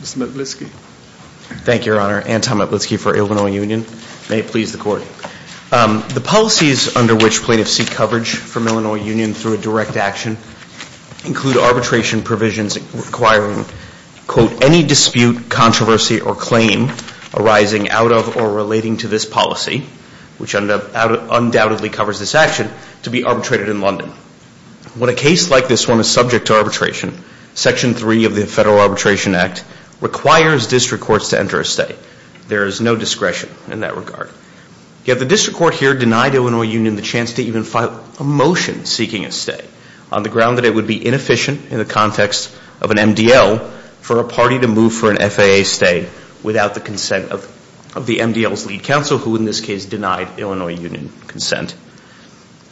Mr. Metlitsky. Thank you, Your Honor. Anton Metlitsky for Illinois Union. May it please the Court. The policies under which plaintiffs seek coverage from Illinois Union through a direct action include arbitration provisions requiring, quote, any dispute, controversy or claim arising out of or relating to this policy, which undoubtedly covers this action, to be arbitrated in London. When a case like this one is subject to arbitration, Section 3 of the Federal Arbitration Act requires district courts to enter a stay. There is no discretion in that regard. Yet the district court here denied Illinois Union the chance to even file a motion seeking a stay on the ground that it would be inefficient in the context of an MDL for a party to move for an FAA stay without the consent of the MDL's lead counsel, who in this case denied Illinois Union consent.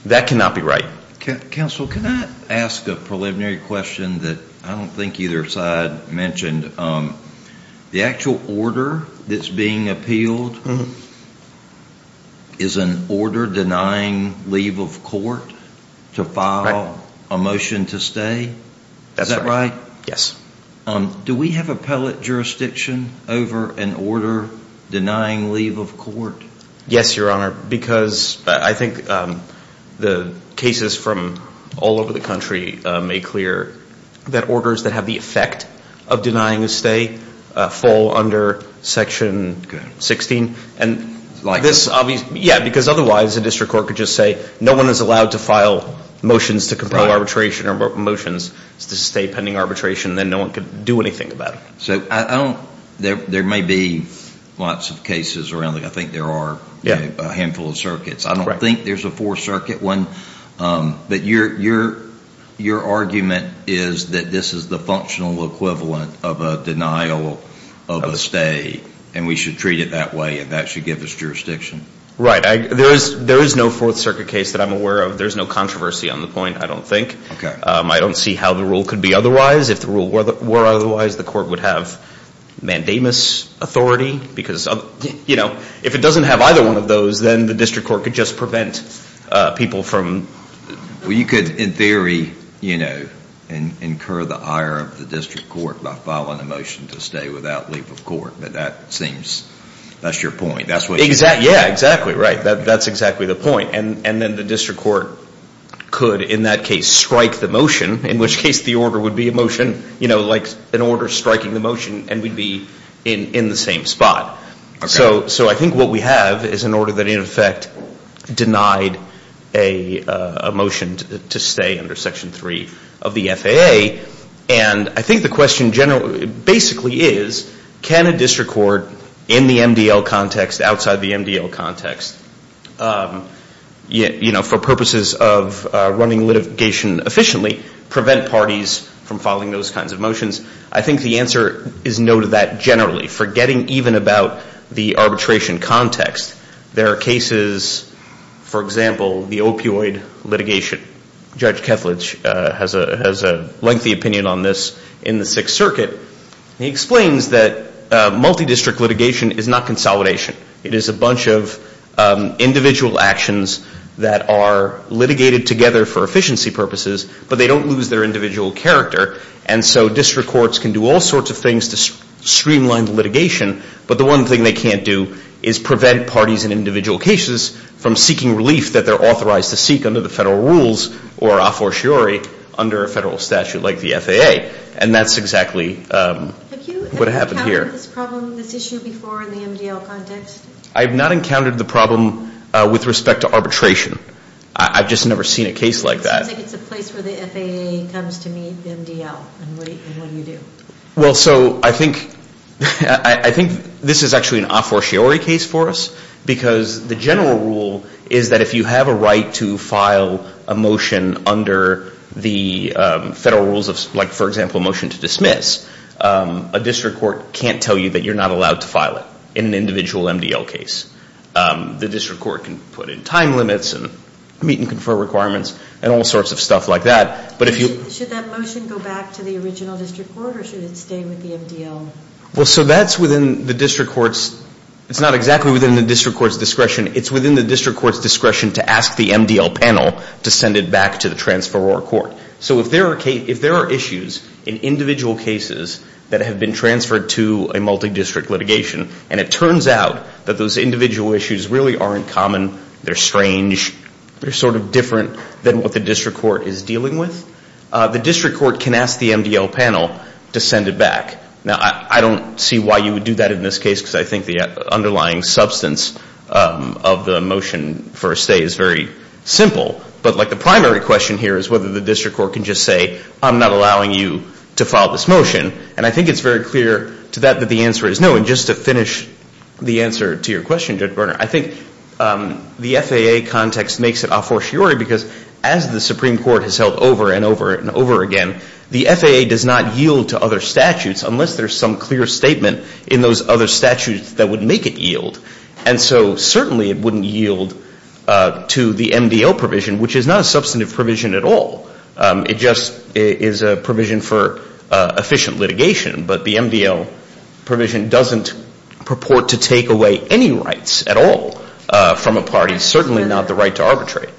That cannot be right. Counsel, can I ask a preliminary question that I don't think either side mentioned? The actual order that's being appealed is an order denying leave of court to file a motion to stay? Is that right? Yes. Do we have appellate jurisdiction over an order denying leave of court? Yes, Your Honor, because I think the cases from all over the country make clear that orders that have the effect of denying a stay fall under Section 16. Like this? Yeah, because otherwise a district court could just say no one is allowed to file motions to compel arbitration or motions to stay pending arbitration, then no one could do anything about it. There may be lots of cases around, I think there are a handful of circuits. I don't think there's a Fourth Circuit one, but your argument is that this is the functional equivalent of a denial of a stay and we should treat it that way and that should give us jurisdiction. Right. There is no Fourth Circuit case that I'm aware of. There's no controversy on the point, I don't think. I don't see how the rule could be otherwise if the rule were otherwise, the court would have mandamus authority. If it doesn't have either one of those, then the district court could just prevent people from... You could in theory incur the ire of the district court by filing a motion to stay without leave of court, but that seems, that's your point. Yeah, exactly right. That's exactly the point. And then the district court could, in that case, strike the motion, in which case the order would be a motion, like an order striking the motion and we'd be in the same spot. So I think what we have is an order that in effect denied a motion to stay under Section 3 of the FAA and I think the question basically is, can a district court in the MDL context, outside the MDL context, for purposes of running litigation efficiently, prevent parties from filing those kinds of motions? I think the answer is no to that generally, forgetting even about the arbitration context. There are cases, for example, the opioid litigation. Judge Kethledge has a lengthy opinion on this in the Sixth Circuit. He explains that multi-district litigation is not consolidation. It is a bunch of individual actions that are litigated together for efficiency purposes, but they don't lose their individual character. And so district courts can do all sorts of things to streamline the litigation, but the one thing they can't do is prevent parties in individual cases from seeking relief that they're authorized to seek under the federal rules or a fortiori under a federal statute like the FAA. And that's exactly what happened here. Have you ever encountered this problem, this issue before in the MDL context? I have not encountered the problem with respect to arbitration. I've just never seen a case like that. It seems like it's a place where the FAA comes to meet the MDL, and what do you do? Well, so I think this is actually an a fortiori case for us, because the general rule is that if you have a right to file a motion under the federal rules of, like for example, a motion to dismiss, a district court can't tell you that you're not allowed to file it in an individual MDL case. The district court can put in time limits and meet and confer requirements and all sorts of stuff like that, but if you... Should that motion go back to the original district court, or should it stay with the MDL? Well, so that's within the district court's, it's not exactly within the district court's discretion, it's within the district court's discretion to ask the MDL panel to send it back to the transferor court. So if there are issues in individual cases that have been transferred to a multi-district litigation, and it turns out that those individual issues really aren't common, they're strange, they're sort of different than what the district court is dealing with, the district court can ask the MDL panel to send it back. Now, I don't see why you would do that in this case, because I think the underlying substance of the motion for a stay is very simple, but like the primary question here is whether the district court can just say, I'm not allowing you to file this motion, and I think it's very clear to that that the answer is no. And just to finish the answer to your question, Judge Berner, I think the FAA context makes it a fortiori because as the Supreme Court has held over and over and over again, the FAA does not yield to other statutes unless there's some clear statement in those other statutes that would make it yield. And so certainly it wouldn't yield to the MDL provision, which is not a provision for efficient litigation, but the MDL provision doesn't purport to take away any rights at all from a party, certainly not the right to arbitrate.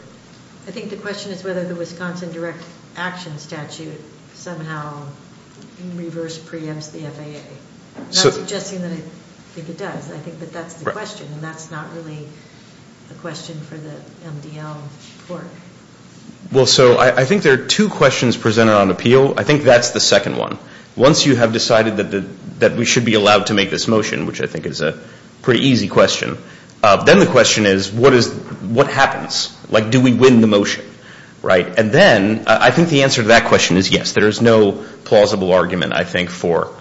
I think the question is whether the Wisconsin Direct Action statute somehow in reverse preempts the FAA. Not suggesting that I think it does, I think that that's the question, and that's not really a question for the MDL court. Well, so I think there are two questions presented on appeal. I think that's the second one. Once you have decided that we should be allowed to make this motion, which I think is a pretty easy question, then the question is, what happens? Like, do we win the motion? And then I think the answer to that question is yes. There is no plausible argument, I think, for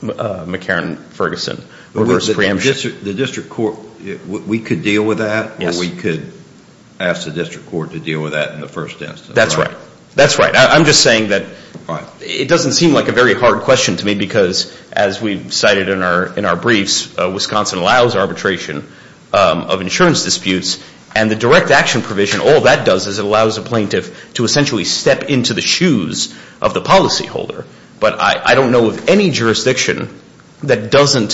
McCarran-Ferguson reverse preemption. The district court, we could deal with that, or we could ask the district court to deal with that in the first instance? That's right. That's right. I'm just saying that it doesn't seem like a very hard question to me because, as we've cited in our briefs, Wisconsin allows arbitration of insurance disputes and the direct action provision, all that does is it allows a plaintiff to essentially step into the shoes of the policyholder. But I don't know of any jurisdiction that doesn't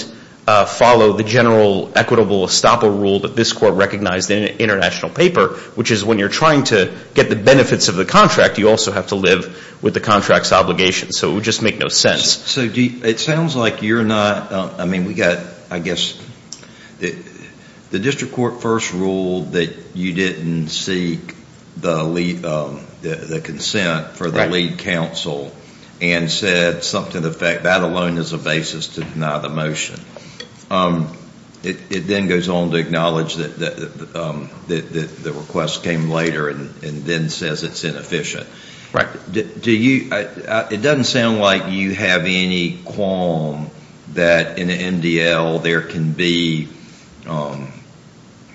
follow the general equitable estoppel rule that this court recognized in an international paper, which is when you're trying to get the benefits of the contract, you also have to live with the contract's obligations. So it would just make no sense. So it sounds like you're not, I mean, we've got, I guess, the district court first ruled that you didn't seek the consent for the lead counsel and said something to the effect that that alone is a basis to deny the motion. It then goes on to acknowledge that the request came later and then says it's inefficient. Right. Do you, it doesn't sound like you have any qualm that in an MDL there can be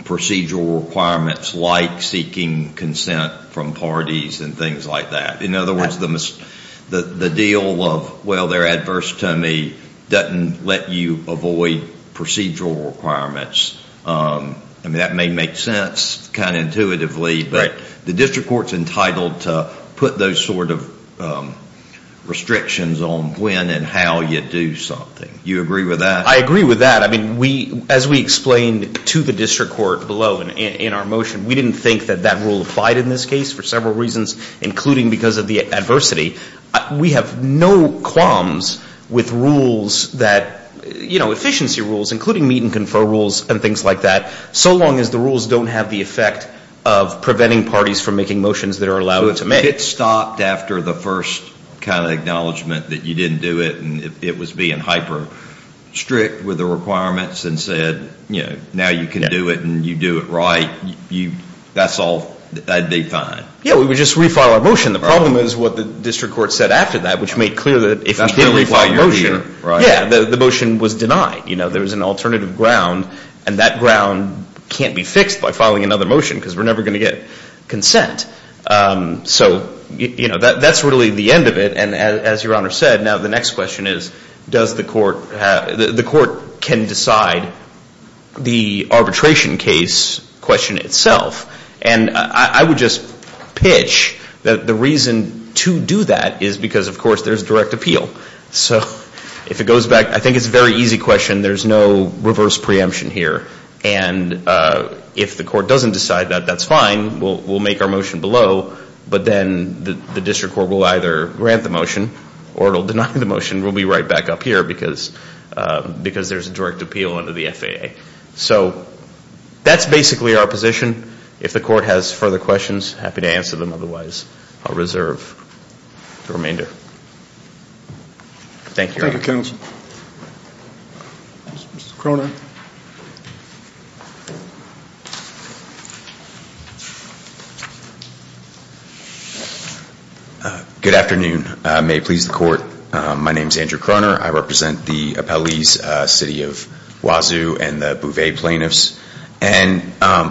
procedural requirements like seeking consent from parties and things like that. In other words, the deal of, well, they're adverse to me, doesn't let you avoid procedural requirements. I mean, that may make sense kind of intuitively, but the district court's entitled to put those sort of restrictions on when and how you do something. You agree with that? I agree with that. I mean, we, as we explained to the district court below in our motion, we didn't think that that rule applied in this case for several reasons, including because of the adversity. We have no qualms with rules that, you know, efficiency rules, including meet and confer rules and things like that, so long as the rules don't have the effect of preventing parties from making motions that are allowed to make. So if it stopped after the first kind of acknowledgement that you didn't do it and it was being hyper strict with the requirements and said, you know, now you can do it and you do it right, that's all, that'd be fine. Yeah, we would just refile our motion. The problem is what the district court said after that, which made clear that if we did refile the motion, yeah, the motion was denied. You know, there was an alternative ground and that ground can't be fixed by filing another motion because we're never going to get consent. So, you know, that's really the end of it and as your honor said, now the next question is, does the court, the court can decide the arbitration case question itself? And I would just pitch that the reason to do that is because of course there's direct appeal. So if it goes back, I think it's a very easy question, there's no reverse preemption here. And if the court doesn't decide that, that's fine, we'll make our motion below, but then the district court will either grant the motion or it will deny the motion. We'll be right back up here because there's a direct appeal under the FAA. So that's basically our position. If the court has further questions, happy to answer them. Otherwise, I'll reserve the remainder. Thank you, your honor. Thank you, counsel. Mr. Cronin. Good afternoon. May it please the court, my name is Andrew Cronin. I represent the appellees city of Wazoo and the Bouvier plaintiffs. And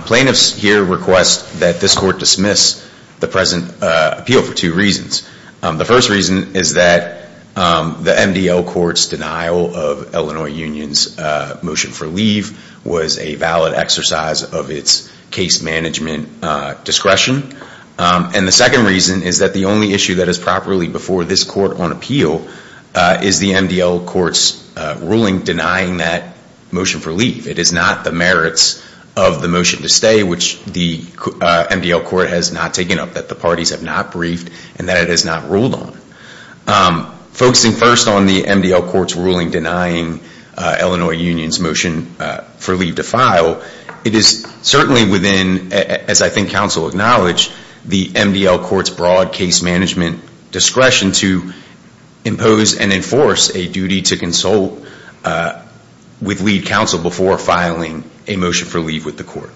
plaintiffs here request that this court dismiss the present appeal for two reasons. The first reason is that the MDL court's denial of Illinois Union's motion for leave was a valid exercise of its case management discretion. And the second reason is that the only issue that is properly before this court on appeal is the MDL court's ruling denying that motion for leave. It is not the merits of the motion to stay, which the MDL court has not taken up, that the parties have not briefed and that it has not ruled on. Focusing first on the MDL court's ruling denying Illinois Union's motion for leave to file, it is certainly within, as I think counsel acknowledged, the MDL court's broad case management discretion to impose and enforce a duty to consult with lead counsel before filing a motion for leave with the court.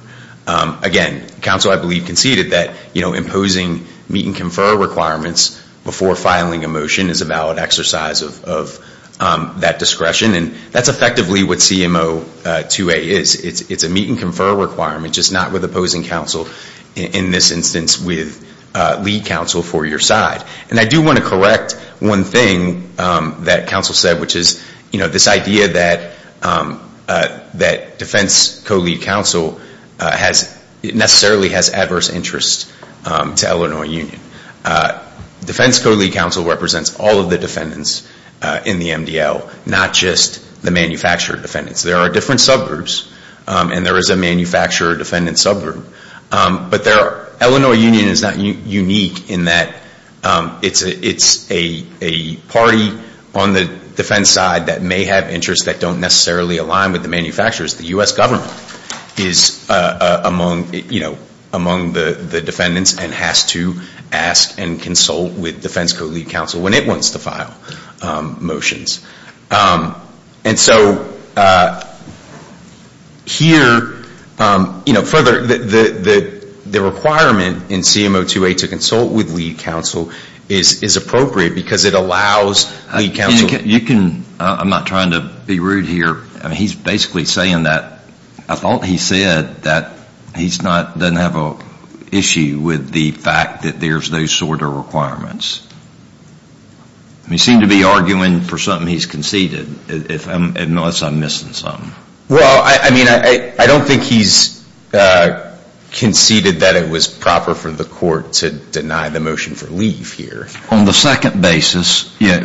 Again, counsel I believe conceded that imposing meet and confer requirements before filing a motion is a valid exercise of that discretion. And that's effectively what CMO 2A is. It's a meet and confer requirement just not with opposing counsel, in this instance with lead counsel for your side. And I do want to correct one thing that counsel said, which is this idea that defense co-lead counsel necessarily has adverse interest to Illinois Union. Defense co-lead counsel represents all of the defendants in the MDL, not just the manufacturer defendants. There are different subgroups, and there is a manufacturer defendant subgroup. But Illinois Union is not unique in that it's a party on the defense side that may have interests that don't necessarily align with the manufacturers. The U.S. government is among the defendants and has to ask and consult with defense co-lead counsel when it wants to file motions. And so, I think here, you know, further, the requirement in CMO 2A to consult with lead counsel is appropriate because it allows lead counsel. You can, I'm not trying to be rude here, he's basically saying that, I thought he said that he's not, doesn't have an issue with the fact that there's those sort of requirements. He seemed to be arguing for something he's conceded. Unless I'm missing something. Well, I mean, I don't think he's conceded that it was proper for the court to deny the motion for leave here. On the second basis, yeah.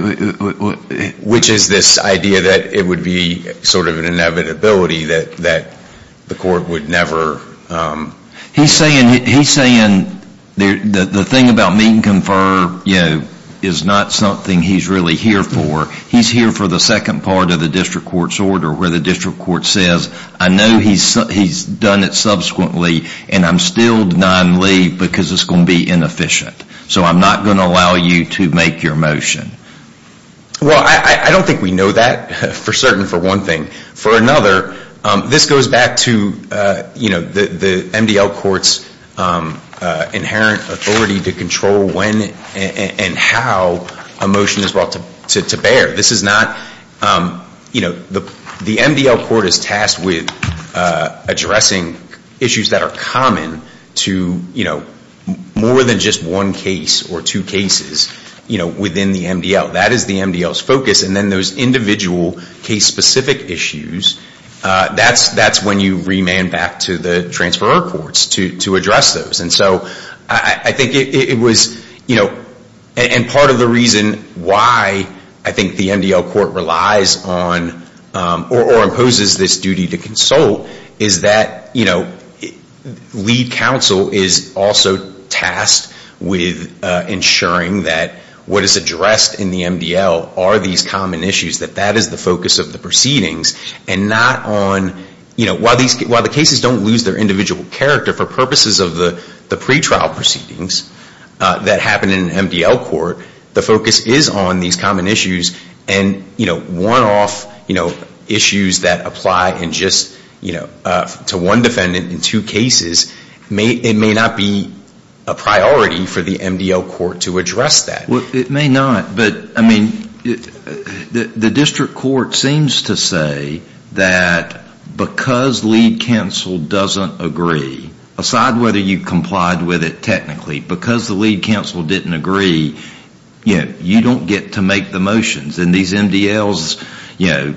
Which is this idea that it would be sort of an inevitability that the court would never. He's saying, he's saying the thing about meet and confer, you know, is not something he's really here for. He's here for the second part of the district court's order, where the district court says, I know he's done it subsequently, and I'm still denying leave because it's going to be inefficient. So I'm not going to allow you to make your motion. Well, I don't think we know that for certain for one thing. For another, this goes back to, you know, the MDL court's inherent authority to control when and how a motion is brought to bear. This is not, you know, the MDL court is tasked with addressing issues that are common to, you know, more than just one case or two cases, you know, within the MDL. That is the MDL's focus. And then those individual case-specific issues, that's when you remand back to the transferor courts to address those. And so I think it was, you know, and part of the reason why I think the MDL court relies on or imposes this duty to consult is that, you know, lead counsel is also tasked with ensuring that what is addressed in the MDL are these common issues, that that is the focus of the proceedings and not on, you know, while the cases don't lose their individual character for purposes of the pretrial proceedings that happen in MDL court, the focus is on these common issues and, you know, one-off, you know, issues that apply in just, you know, to one defendant in two cases, it may not be a priority for the MDL court to address that. It may not, but I mean, the district court seems to say that because lead counsel doesn't agree, aside whether you complied with it technically, because the lead counsel didn't agree, you know, you don't get to make the motions. And these MDLs, you know,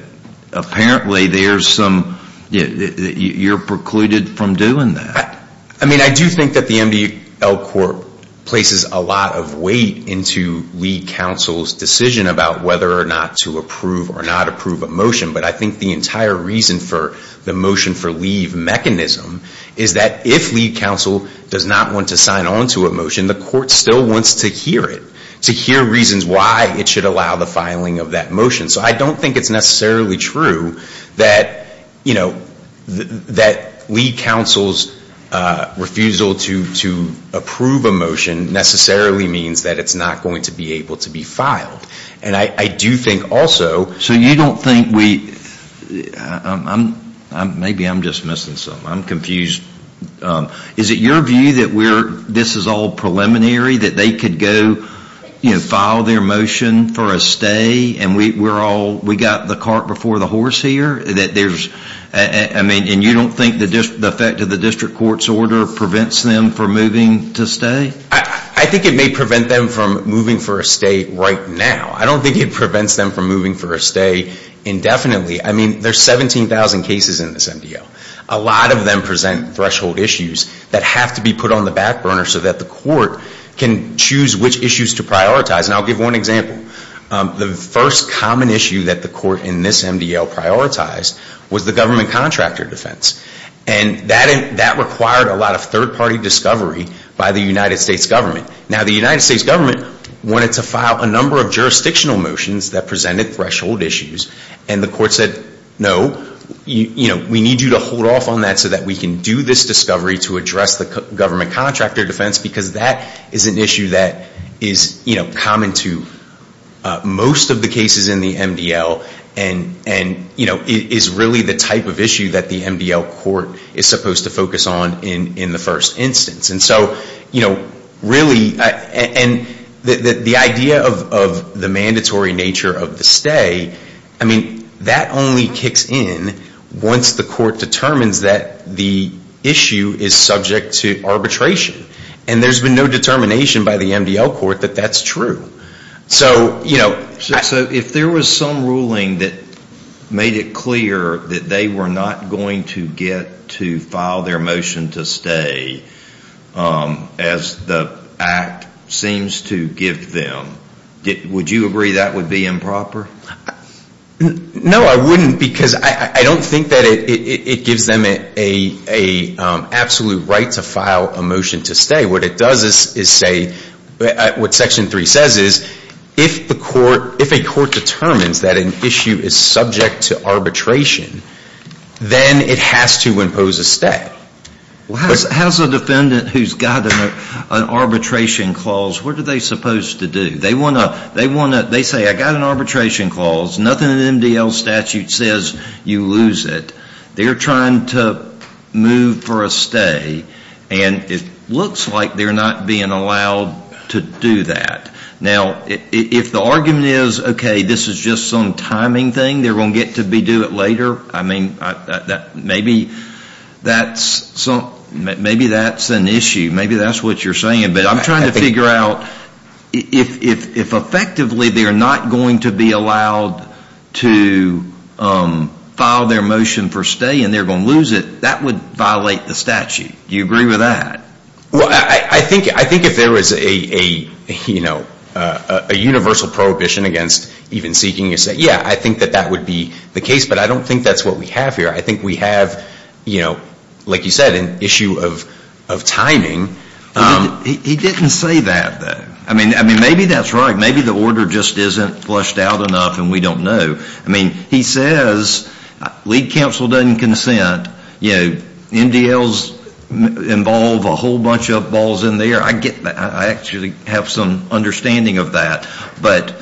apparently there's some, you know, you're precluded from doing that. I mean, I do think that the MDL court places a lot of weight into lead counsel's decision about whether or not to approve or not approve a motion, but I think the entire reason for the motion for leave mechanism is that if lead counsel does not want to sign on to a motion, the court still wants to hear it, to hear reasons why it should allow the filing of that motion. So I don't think it's necessarily true that, you know, that lead counsel's refusal to approve a motion necessarily means that it's not going to be able to be filed. And I do think also So you don't think we, maybe I'm just missing something. I'm confused. Is it your view that we're, this is all preliminary, that they could go, you know, file their motion for a stay and we're all, we got the cart before the horse here? That there's, I mean, and you don't think the effect of the district court's order prevents them from moving to stay? I think it may prevent them from moving for a stay right now. I don't think it prevents them from moving for a stay indefinitely. I mean, there's 17,000 cases in this MDL. A lot of them present threshold issues that have to be put on the back burner so that the court can choose which issues to prioritize. And I'll give one example. The first common issue that the court in this MDL prioritized was the government contractor defense. And that required a lot of third party discovery by the United States government. Now the United States government presented threshold issues and the court said, no, you know, we need you to hold off on that so that we can do this discovery to address the government contractor defense because that is an issue that is, you know, common to most of the cases in the MDL and, you know, is really the type of issue that the MDL court is supposed to focus on in the first instance. And so, you know, really, and the idea of the mandatory nature of the stay, I mean, that only kicks in once the court determines that the issue is subject to arbitration. And there's been no determination by the MDL court that that's true. So, you So if there was some ruling that made it clear that they were not going to get to file their motion to stay as the act seems to give them, would you agree that would be improper? No, I wouldn't because I don't think that it gives them an absolute right to file a motion to stay. What it does is say, what section 3 says is, if a court determines that an issue is subject to arbitration, then it has to impose a stay. Well, how's a defendant who's got an arbitration clause, what are they supposed to do? They want to, they say, I've got an arbitration clause, nothing in the MDL statute says you lose it. They're trying to move for a stay, and it looks like they're not being allowed to do that. Now, if the argument is, okay, this is just some timing thing, they're going to get to do it later, I mean, maybe that's an issue. Maybe that's what you're saying. But I'm trying to figure out, if effectively they're not going to be allowed to file their motion for stay and they're going to lose it, that would violate the statute. Do you agree with that? Well, I think if there was a universal prohibition against even seeking a stay, yeah, I think that that would be the case. But I don't think that's what we have here. I think we have, like you said, an issue of timing. He didn't say that, though. I mean, maybe that's right. Maybe the order just isn't flushed out enough and we don't know. I mean, he says lead counsel doesn't consent. MDLs involve a whole bunch of balls in the air. I actually have some understanding of that. But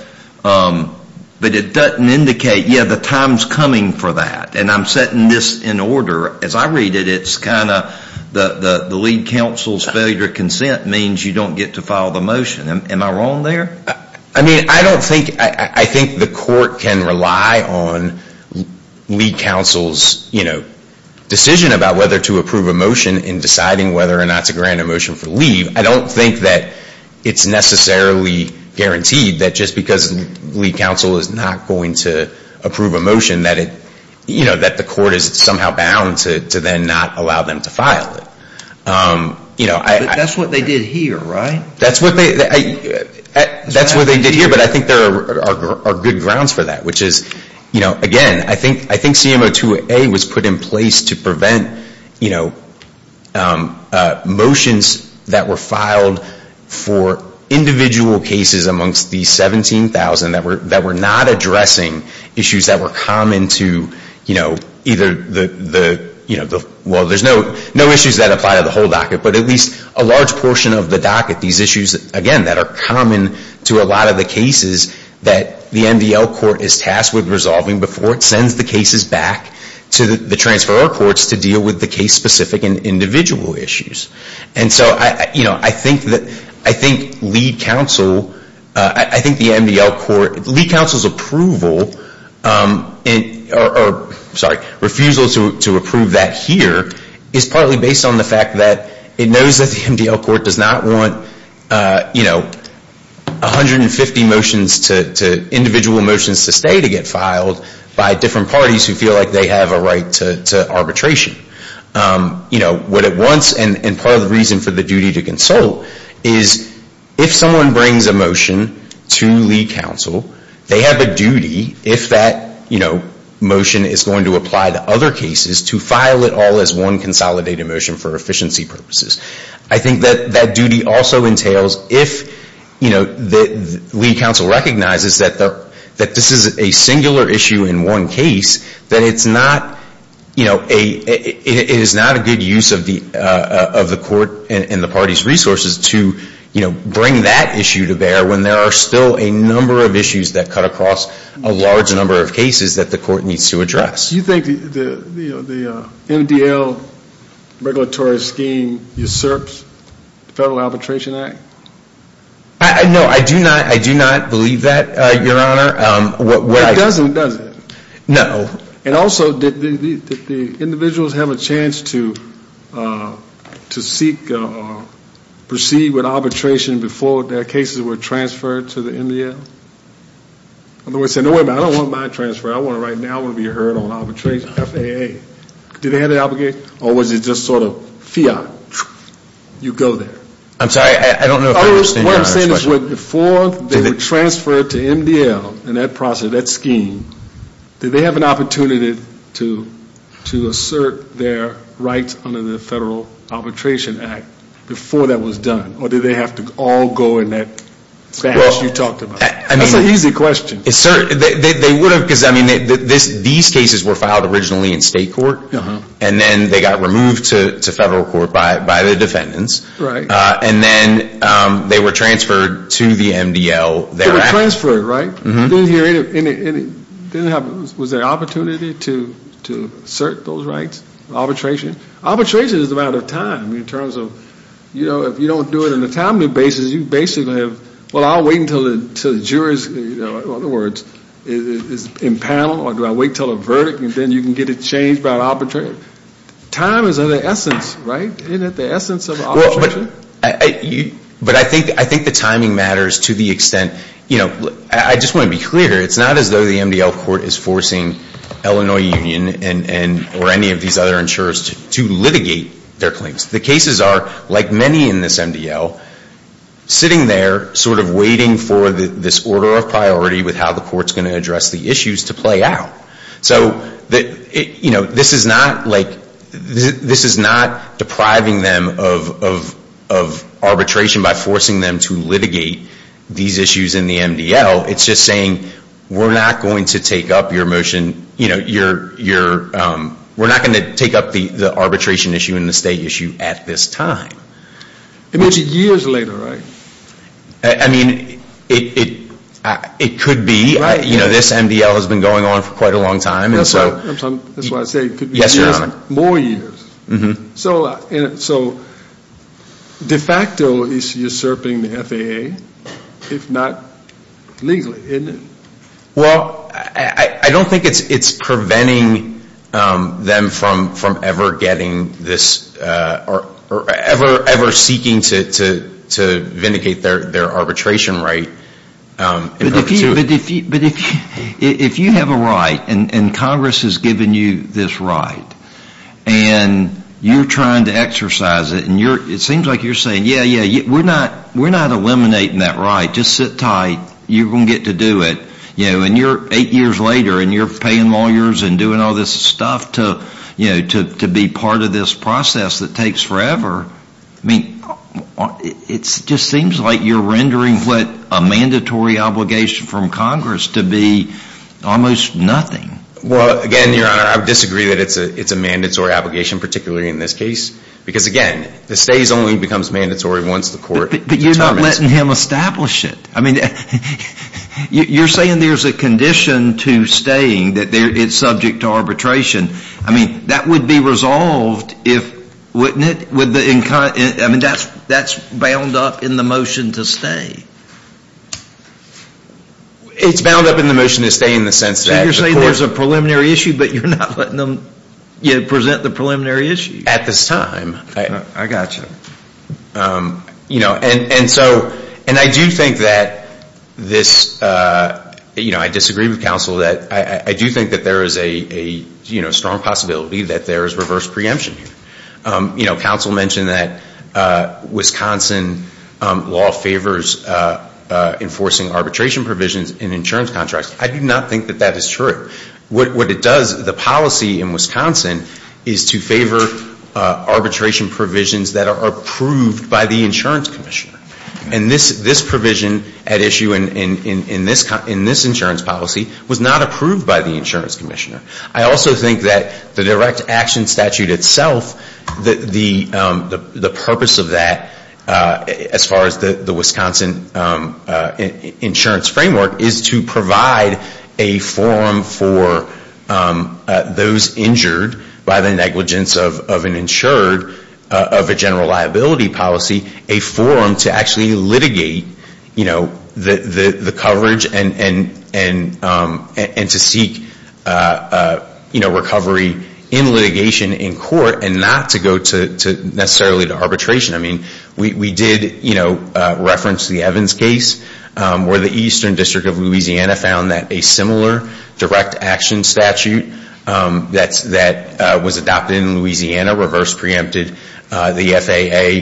it doesn't indicate, yeah, the time's coming for that. And I'm setting this in order. As I read it, it's kind of the lead counsel's failure to consent means you don't get to file the motion. Am I wrong there? I mean, I don't think, I think the court can rely on lead counsel's decision about whether to approve a motion in deciding whether or not to grant a motion for leave. I don't think that it's necessarily guaranteed that just because lead counsel is not going to approve a motion that it, you know, that the court is somehow bound to then not allow them to file it. You know, I That's what they did here, right? That's what they, that's what they did here. But I think there are good grounds for that, which is, you know, again, I think CMO 2A was put in place to prevent, you know, motions that were filed for individual cases amongst the 17,000 that were not addressing issues that were common to, you know, either the, you know, well, there's no issues that apply to the whole docket, but at least a large portion of the docket, these issues, again, that are common to a lot of the cases that the MDL court is tasked with resolving before it sends the cases back to the transferor courts to deal with the case-specific and individual issues. And so, you know, I think that, I think lead counsel, I think the MDL court, lead counsel's approval, sorry, refusal to approve that here is partly based on the fact that it knows that the MDL court does not want, you know, 150 motions to, individual motions to stay to get filed by different parties who feel like they have a right to arbitration. You know, what it wants and part of the reason for the duty to consult is if someone brings a motion to lead counsel, they have a duty if that, you know, motion is going to apply to other cases to file it all as one consolidated motion for efficiency purposes. I think that that duty also entails if, you know, lead counsel recognizes that this is a singular issue in one case, that it's not, you know, a, it is not a good use of the court and the party's resources to, you know, bring that issue to bear when there are still a number of issues that cut across a large number of cases that the court needs to address. Do you think the MDL regulatory scheme usurps the Federal Arbitration Act? No, I do not. I do not believe that, Your Honor. Well, it doesn't, does it? No. And also, did the individuals have a chance to seek or proceed with arbitration before their cases were transferred to the MDL? In other words, say, no, wait a minute, I don't want mine transferred. I want it right now. I want to be heard on arbitration, FAA. Do they have the obligation or was it just sort of fiat? You go there. I'm sorry, I don't know if I understand your question. What I'm saying is before they were transferred to MDL in that process, that scheme, did they have an opportunity to assert their rights under the Federal Arbitration Act before that was done? Or did they have to all go in that space you talked about? That's an easy question. They would have because, I mean, these cases were filed originally in state court, and then they got removed to federal court by the defendants, and then they were transferred to the MDL thereafter. They were transferred, right? Mm-hmm. Was there an opportunity to assert those rights, arbitration? Arbitration is a matter of time in terms of, you know, if you don't do it on a timely basis, you basically have, well, I'll wait until the jurors, in other words, is in panel or do I wait until a verdict and then you can get it changed by an arbitrator? Time is of the essence, right? Isn't it the essence of arbitration? But I think the timing matters to the extent, you know, I just want to be clear, it's not as though the MDL court is forcing Illinois Union or any of these other insurers to litigate their claims. The cases are, like many in this MDL, sitting there sort of waiting for this order of priority with how the court's going to address the issues to play out. So, you know, this is not, like, this is not depriving them of arbitration by forcing them to litigate these issues in the MDL. It's just saying, we're not going to take up your motion, you know, you're, we're not going to take up the arbitration issue and the state issue at this time. It means it's years later, right? I mean, it could be, you know, this MDL has been going on for quite a long time. That's why I say it could be years and more years. So, de facto, it's usurping the FAA, if not legally, isn't it? Well, I don't think it's preventing them from ever getting this, or ever seeking to vindicate their arbitration right. But if you have a right, and Congress has given you this right, and you're trying to exercise it, and it seems like you're saying, yeah, yeah, we're not eliminating that right. Just sit tight. You're going to get to do it. You know, and you're eight years later, and you're paying lawyers and doing all this stuff to, you know, to be part of this process that takes forever. I mean, it just seems like you're rendering what a mandatory obligation from Congress to be almost nothing. Well, again, Your Honor, I would disagree that it's a mandatory obligation, particularly in this case. Because, again, the stays only becomes mandatory once the court determines. But you're not letting him establish it. I mean, you're saying there's a condition to staying, that it's subject to arbitration. I mean, that would be resolved if, wouldn't it? Would the, I mean, that's bound up in the motion to stay. It's bound up in the motion to stay in the sense that. You're saying there's a preliminary issue, but you're not letting them, you know, present the preliminary issue. At this time. I got you. You know, and so, and I do think that this, you know, I disagree with counsel that I do think that there is a, you know, strong possibility that there is reverse preemption here. You know, counsel mentioned that Wisconsin law favors enforcing arbitration provisions in insurance contracts. I do not think that that is true. What it does, the policy in Wisconsin is to favor arbitration provisions that are approved by the insurance commissioner. And this provision at issue in this insurance policy was not approved by the insurance commissioner. I also think that the direct action statute itself, the purpose of that, as far as the Wisconsin insurance framework, is to provide a forum for those injured by the negligence of an insured of a general liability policy. A forum to actually litigate, you know, the coverage and to seek, you know, recovery in litigation in court and not to go to necessarily to arbitration. I mean, we did, you know, reference the Evans case where the Eastern District of Louisiana found that a similar direct action statute that was adopted in Louisiana reverse preempted the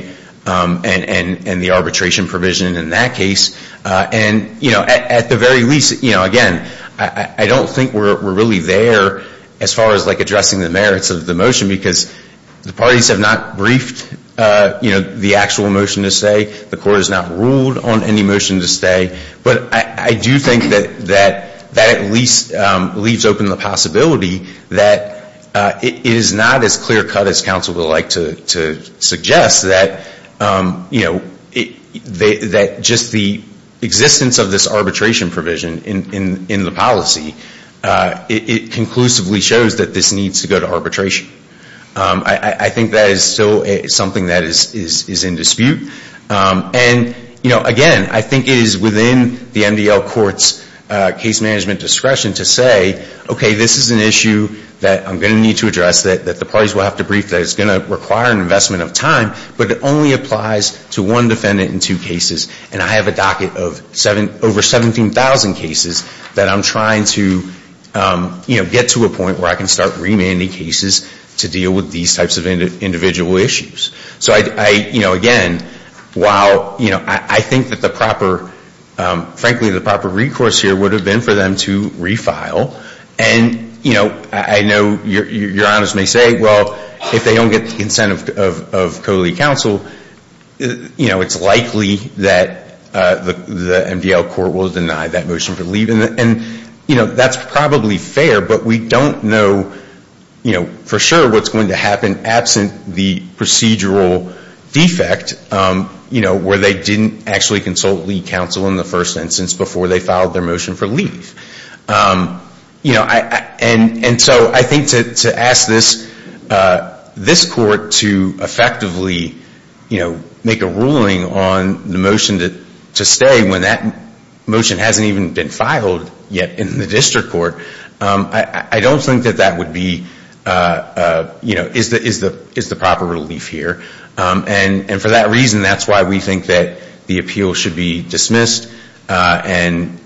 FAA and the arbitration provision in that case. And, you know, at the very least, you know, again, I don't think we're really there as far as like addressing the merits of the motion because the parties have not briefed, you know, the actual motion to stay. The court has not ruled on any motion to stay. But I do think that that at least leaves open the possibility that it is not as clear cut as counsel would like to suggest that, you know, that just the existence of this arbitration provision in the policy, it conclusively shows that this needs to go to arbitration. I think that is still something that is in dispute. And, you know, again, I think it is within the MDL court's case management discretion to say, okay, this is an issue that I'm going to need to address, that the parties will have to brief, that it's going to require an investment of time. But it only applies to one defendant in two cases. And I have a docket of over 17,000 cases that I'm trying to, you know, get to a point where I can start remanding cases to deal with these types of individual issues. So I, you know, again, while, you know, I think that the proper, frankly, the proper recourse here would have been for them to refile. And, you know, I know your honors may say, well, if they don't get the incentive of COLE counsel, you know, it's likely that the MDL court will deny that motion for leave. And, you know, that's probably fair, but we don't know, you know, for sure what's going to happen absent the procedural defect, you know, where they didn't actually consult lead counsel in the first instance before they filed their motion for leave. You know, and so I think to ask this court to effectively, you know, make a ruling on the motion to stay when that motion hasn't even been filed yet in the district court, I don't think that that would be, you know, is the proper relief here. And for that reason, that's why we think that the appeal should be dismissed and,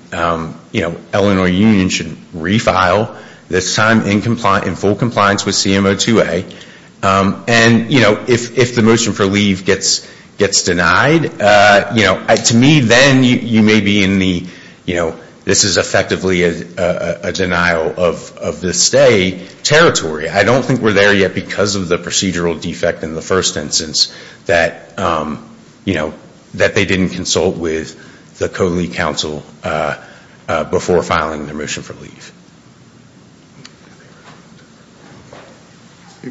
you know, Illinois Union should refile this time in full compliance with CMO 2A. And, you know, if the motion for leave gets denied, you know, to me then you may be in the, you know, this is effectively a denial of the stay territory. I don't think we're there yet because of the procedural defect in the first instance that, you know, that they didn't consult with the COLE counsel before filing their motion for leave.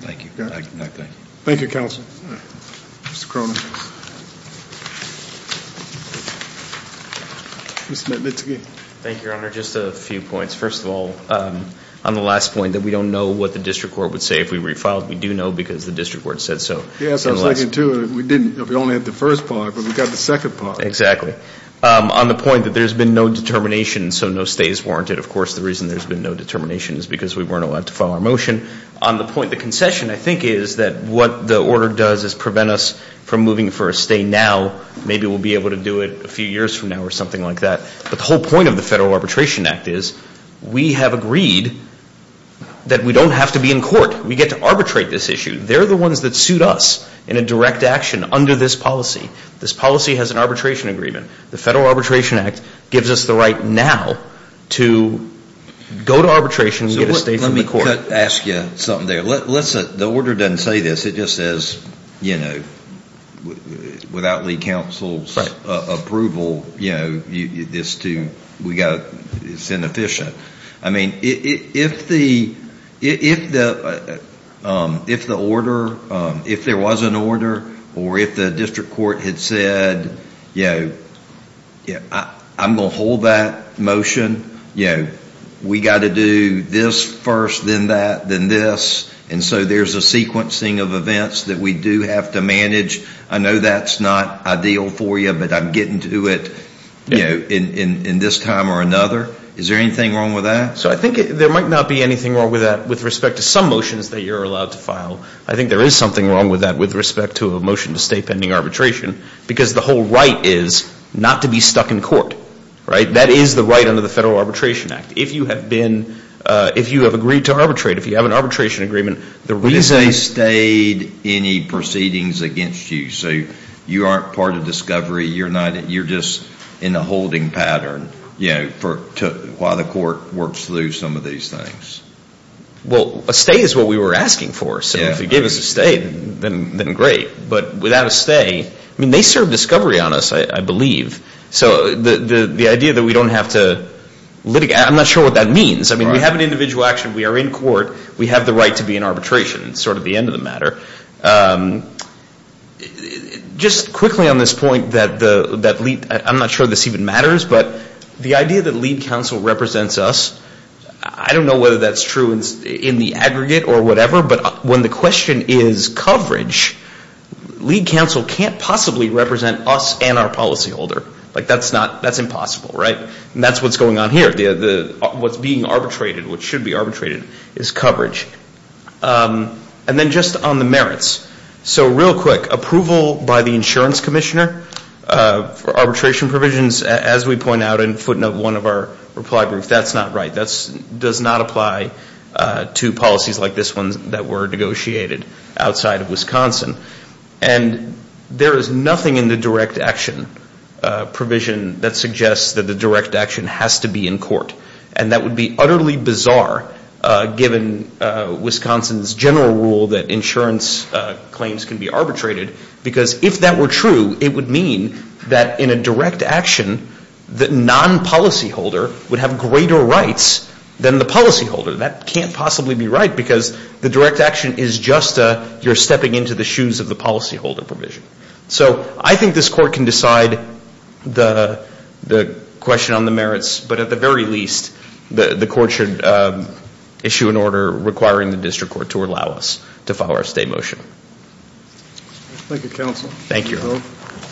Thank you. Thank you counsel. Mr. Cronin. Mr. Mitzke. Thank you, Your Honor. Just a few points. First of all, on the last point that we don't know what the district court would say if we refiled, we do know because the district court said so. Yes, I was thinking too. We didn't, we only had the first part, but we've got the second part. Exactly. On the point that there's been no determination, so no stay is warranted. Of course, the reason there's been no determination is because we weren't allowed to file our motion. On the point, the concession I think is that what the order does is prevent us from moving for a stay now, maybe we'll be able to do it a few years from now or something like that. But the whole point of the Federal Arbitration Act is we have agreed that we don't have to be in court. We get to arbitrate this issue. They're the ones that suit us in a direct action under this policy. This policy has an arbitration agreement. The Federal Arbitration Act gives us the right now to go to arbitration and get a stay from the court. Let me ask you something there. The order doesn't say this. It just says, you know, without League Council's approval, you know, it's inefficient. I mean, if the order, if there was an order, or if the district court had said, you know, I'm going to hold that motion. You know, we've got to do this first, then that, then this. And so there's a sequencing of events that we do have to manage. I know that's not ideal for you, but I'm getting to it in this time or another. Is there anything wrong with that? So I think there might not be anything wrong with that with respect to some motions that you're allowed to file. I think there is something wrong with that with respect to a motion to stay pending arbitration because the whole right is not to be stuck in court. Right? That is the right under the Federal Arbitration Act. If you have been, if you have agreed to arbitrate, if you have an arbitration agreement, the reason... But if they stayed any proceedings against you, so you aren't part of discovery, you're not, you're just in a holding pattern, you know, for, to, while the court works through some of these things. Well, a stay is what we were asking for. So if they gave us a stay, then great. But without a stay, I mean, they serve discovery on us, I believe. So the idea that we don't have to litigate, I'm not sure what that means. I mean, we have an individual action. We are in court. We have the right to be in arbitration. It's sort of the end of the matter. Just quickly on this point that lead, I'm not sure this even matters, but the idea that lead counsel represents us, I don't know whether that's true in the aggregate or whatever, but when the question is coverage, lead counsel can't possibly represent us and our policyholder. Like, that's not, that's impossible, right? And that's what's going on here. What's being arbitrated, what should be arbitrated is coverage. And then just on the merits. So real quick, approval by the insurance commissioner for arbitration provisions, as we point out in footnote 1 of our reply brief, that's not right. That does not apply to policies like this one that were negotiated outside of Wisconsin. And there is nothing in the direct action provision that suggests that the direct action has to be in court. And that would be utterly bizarre given Wisconsin's general rule that insurance claims can be arbitrated, because if that were true, it would mean that in a direct action, the non-policyholder would have greater rights than the policyholder. That can't possibly be right, because the direct action is just a, you're stepping into the shoes of the policyholder provision. So I think this court can decide the question on the merits, but at the very least the court should issue an order requiring the district court to allow us to follow our stay motion. Thank you, counsel. Thank you.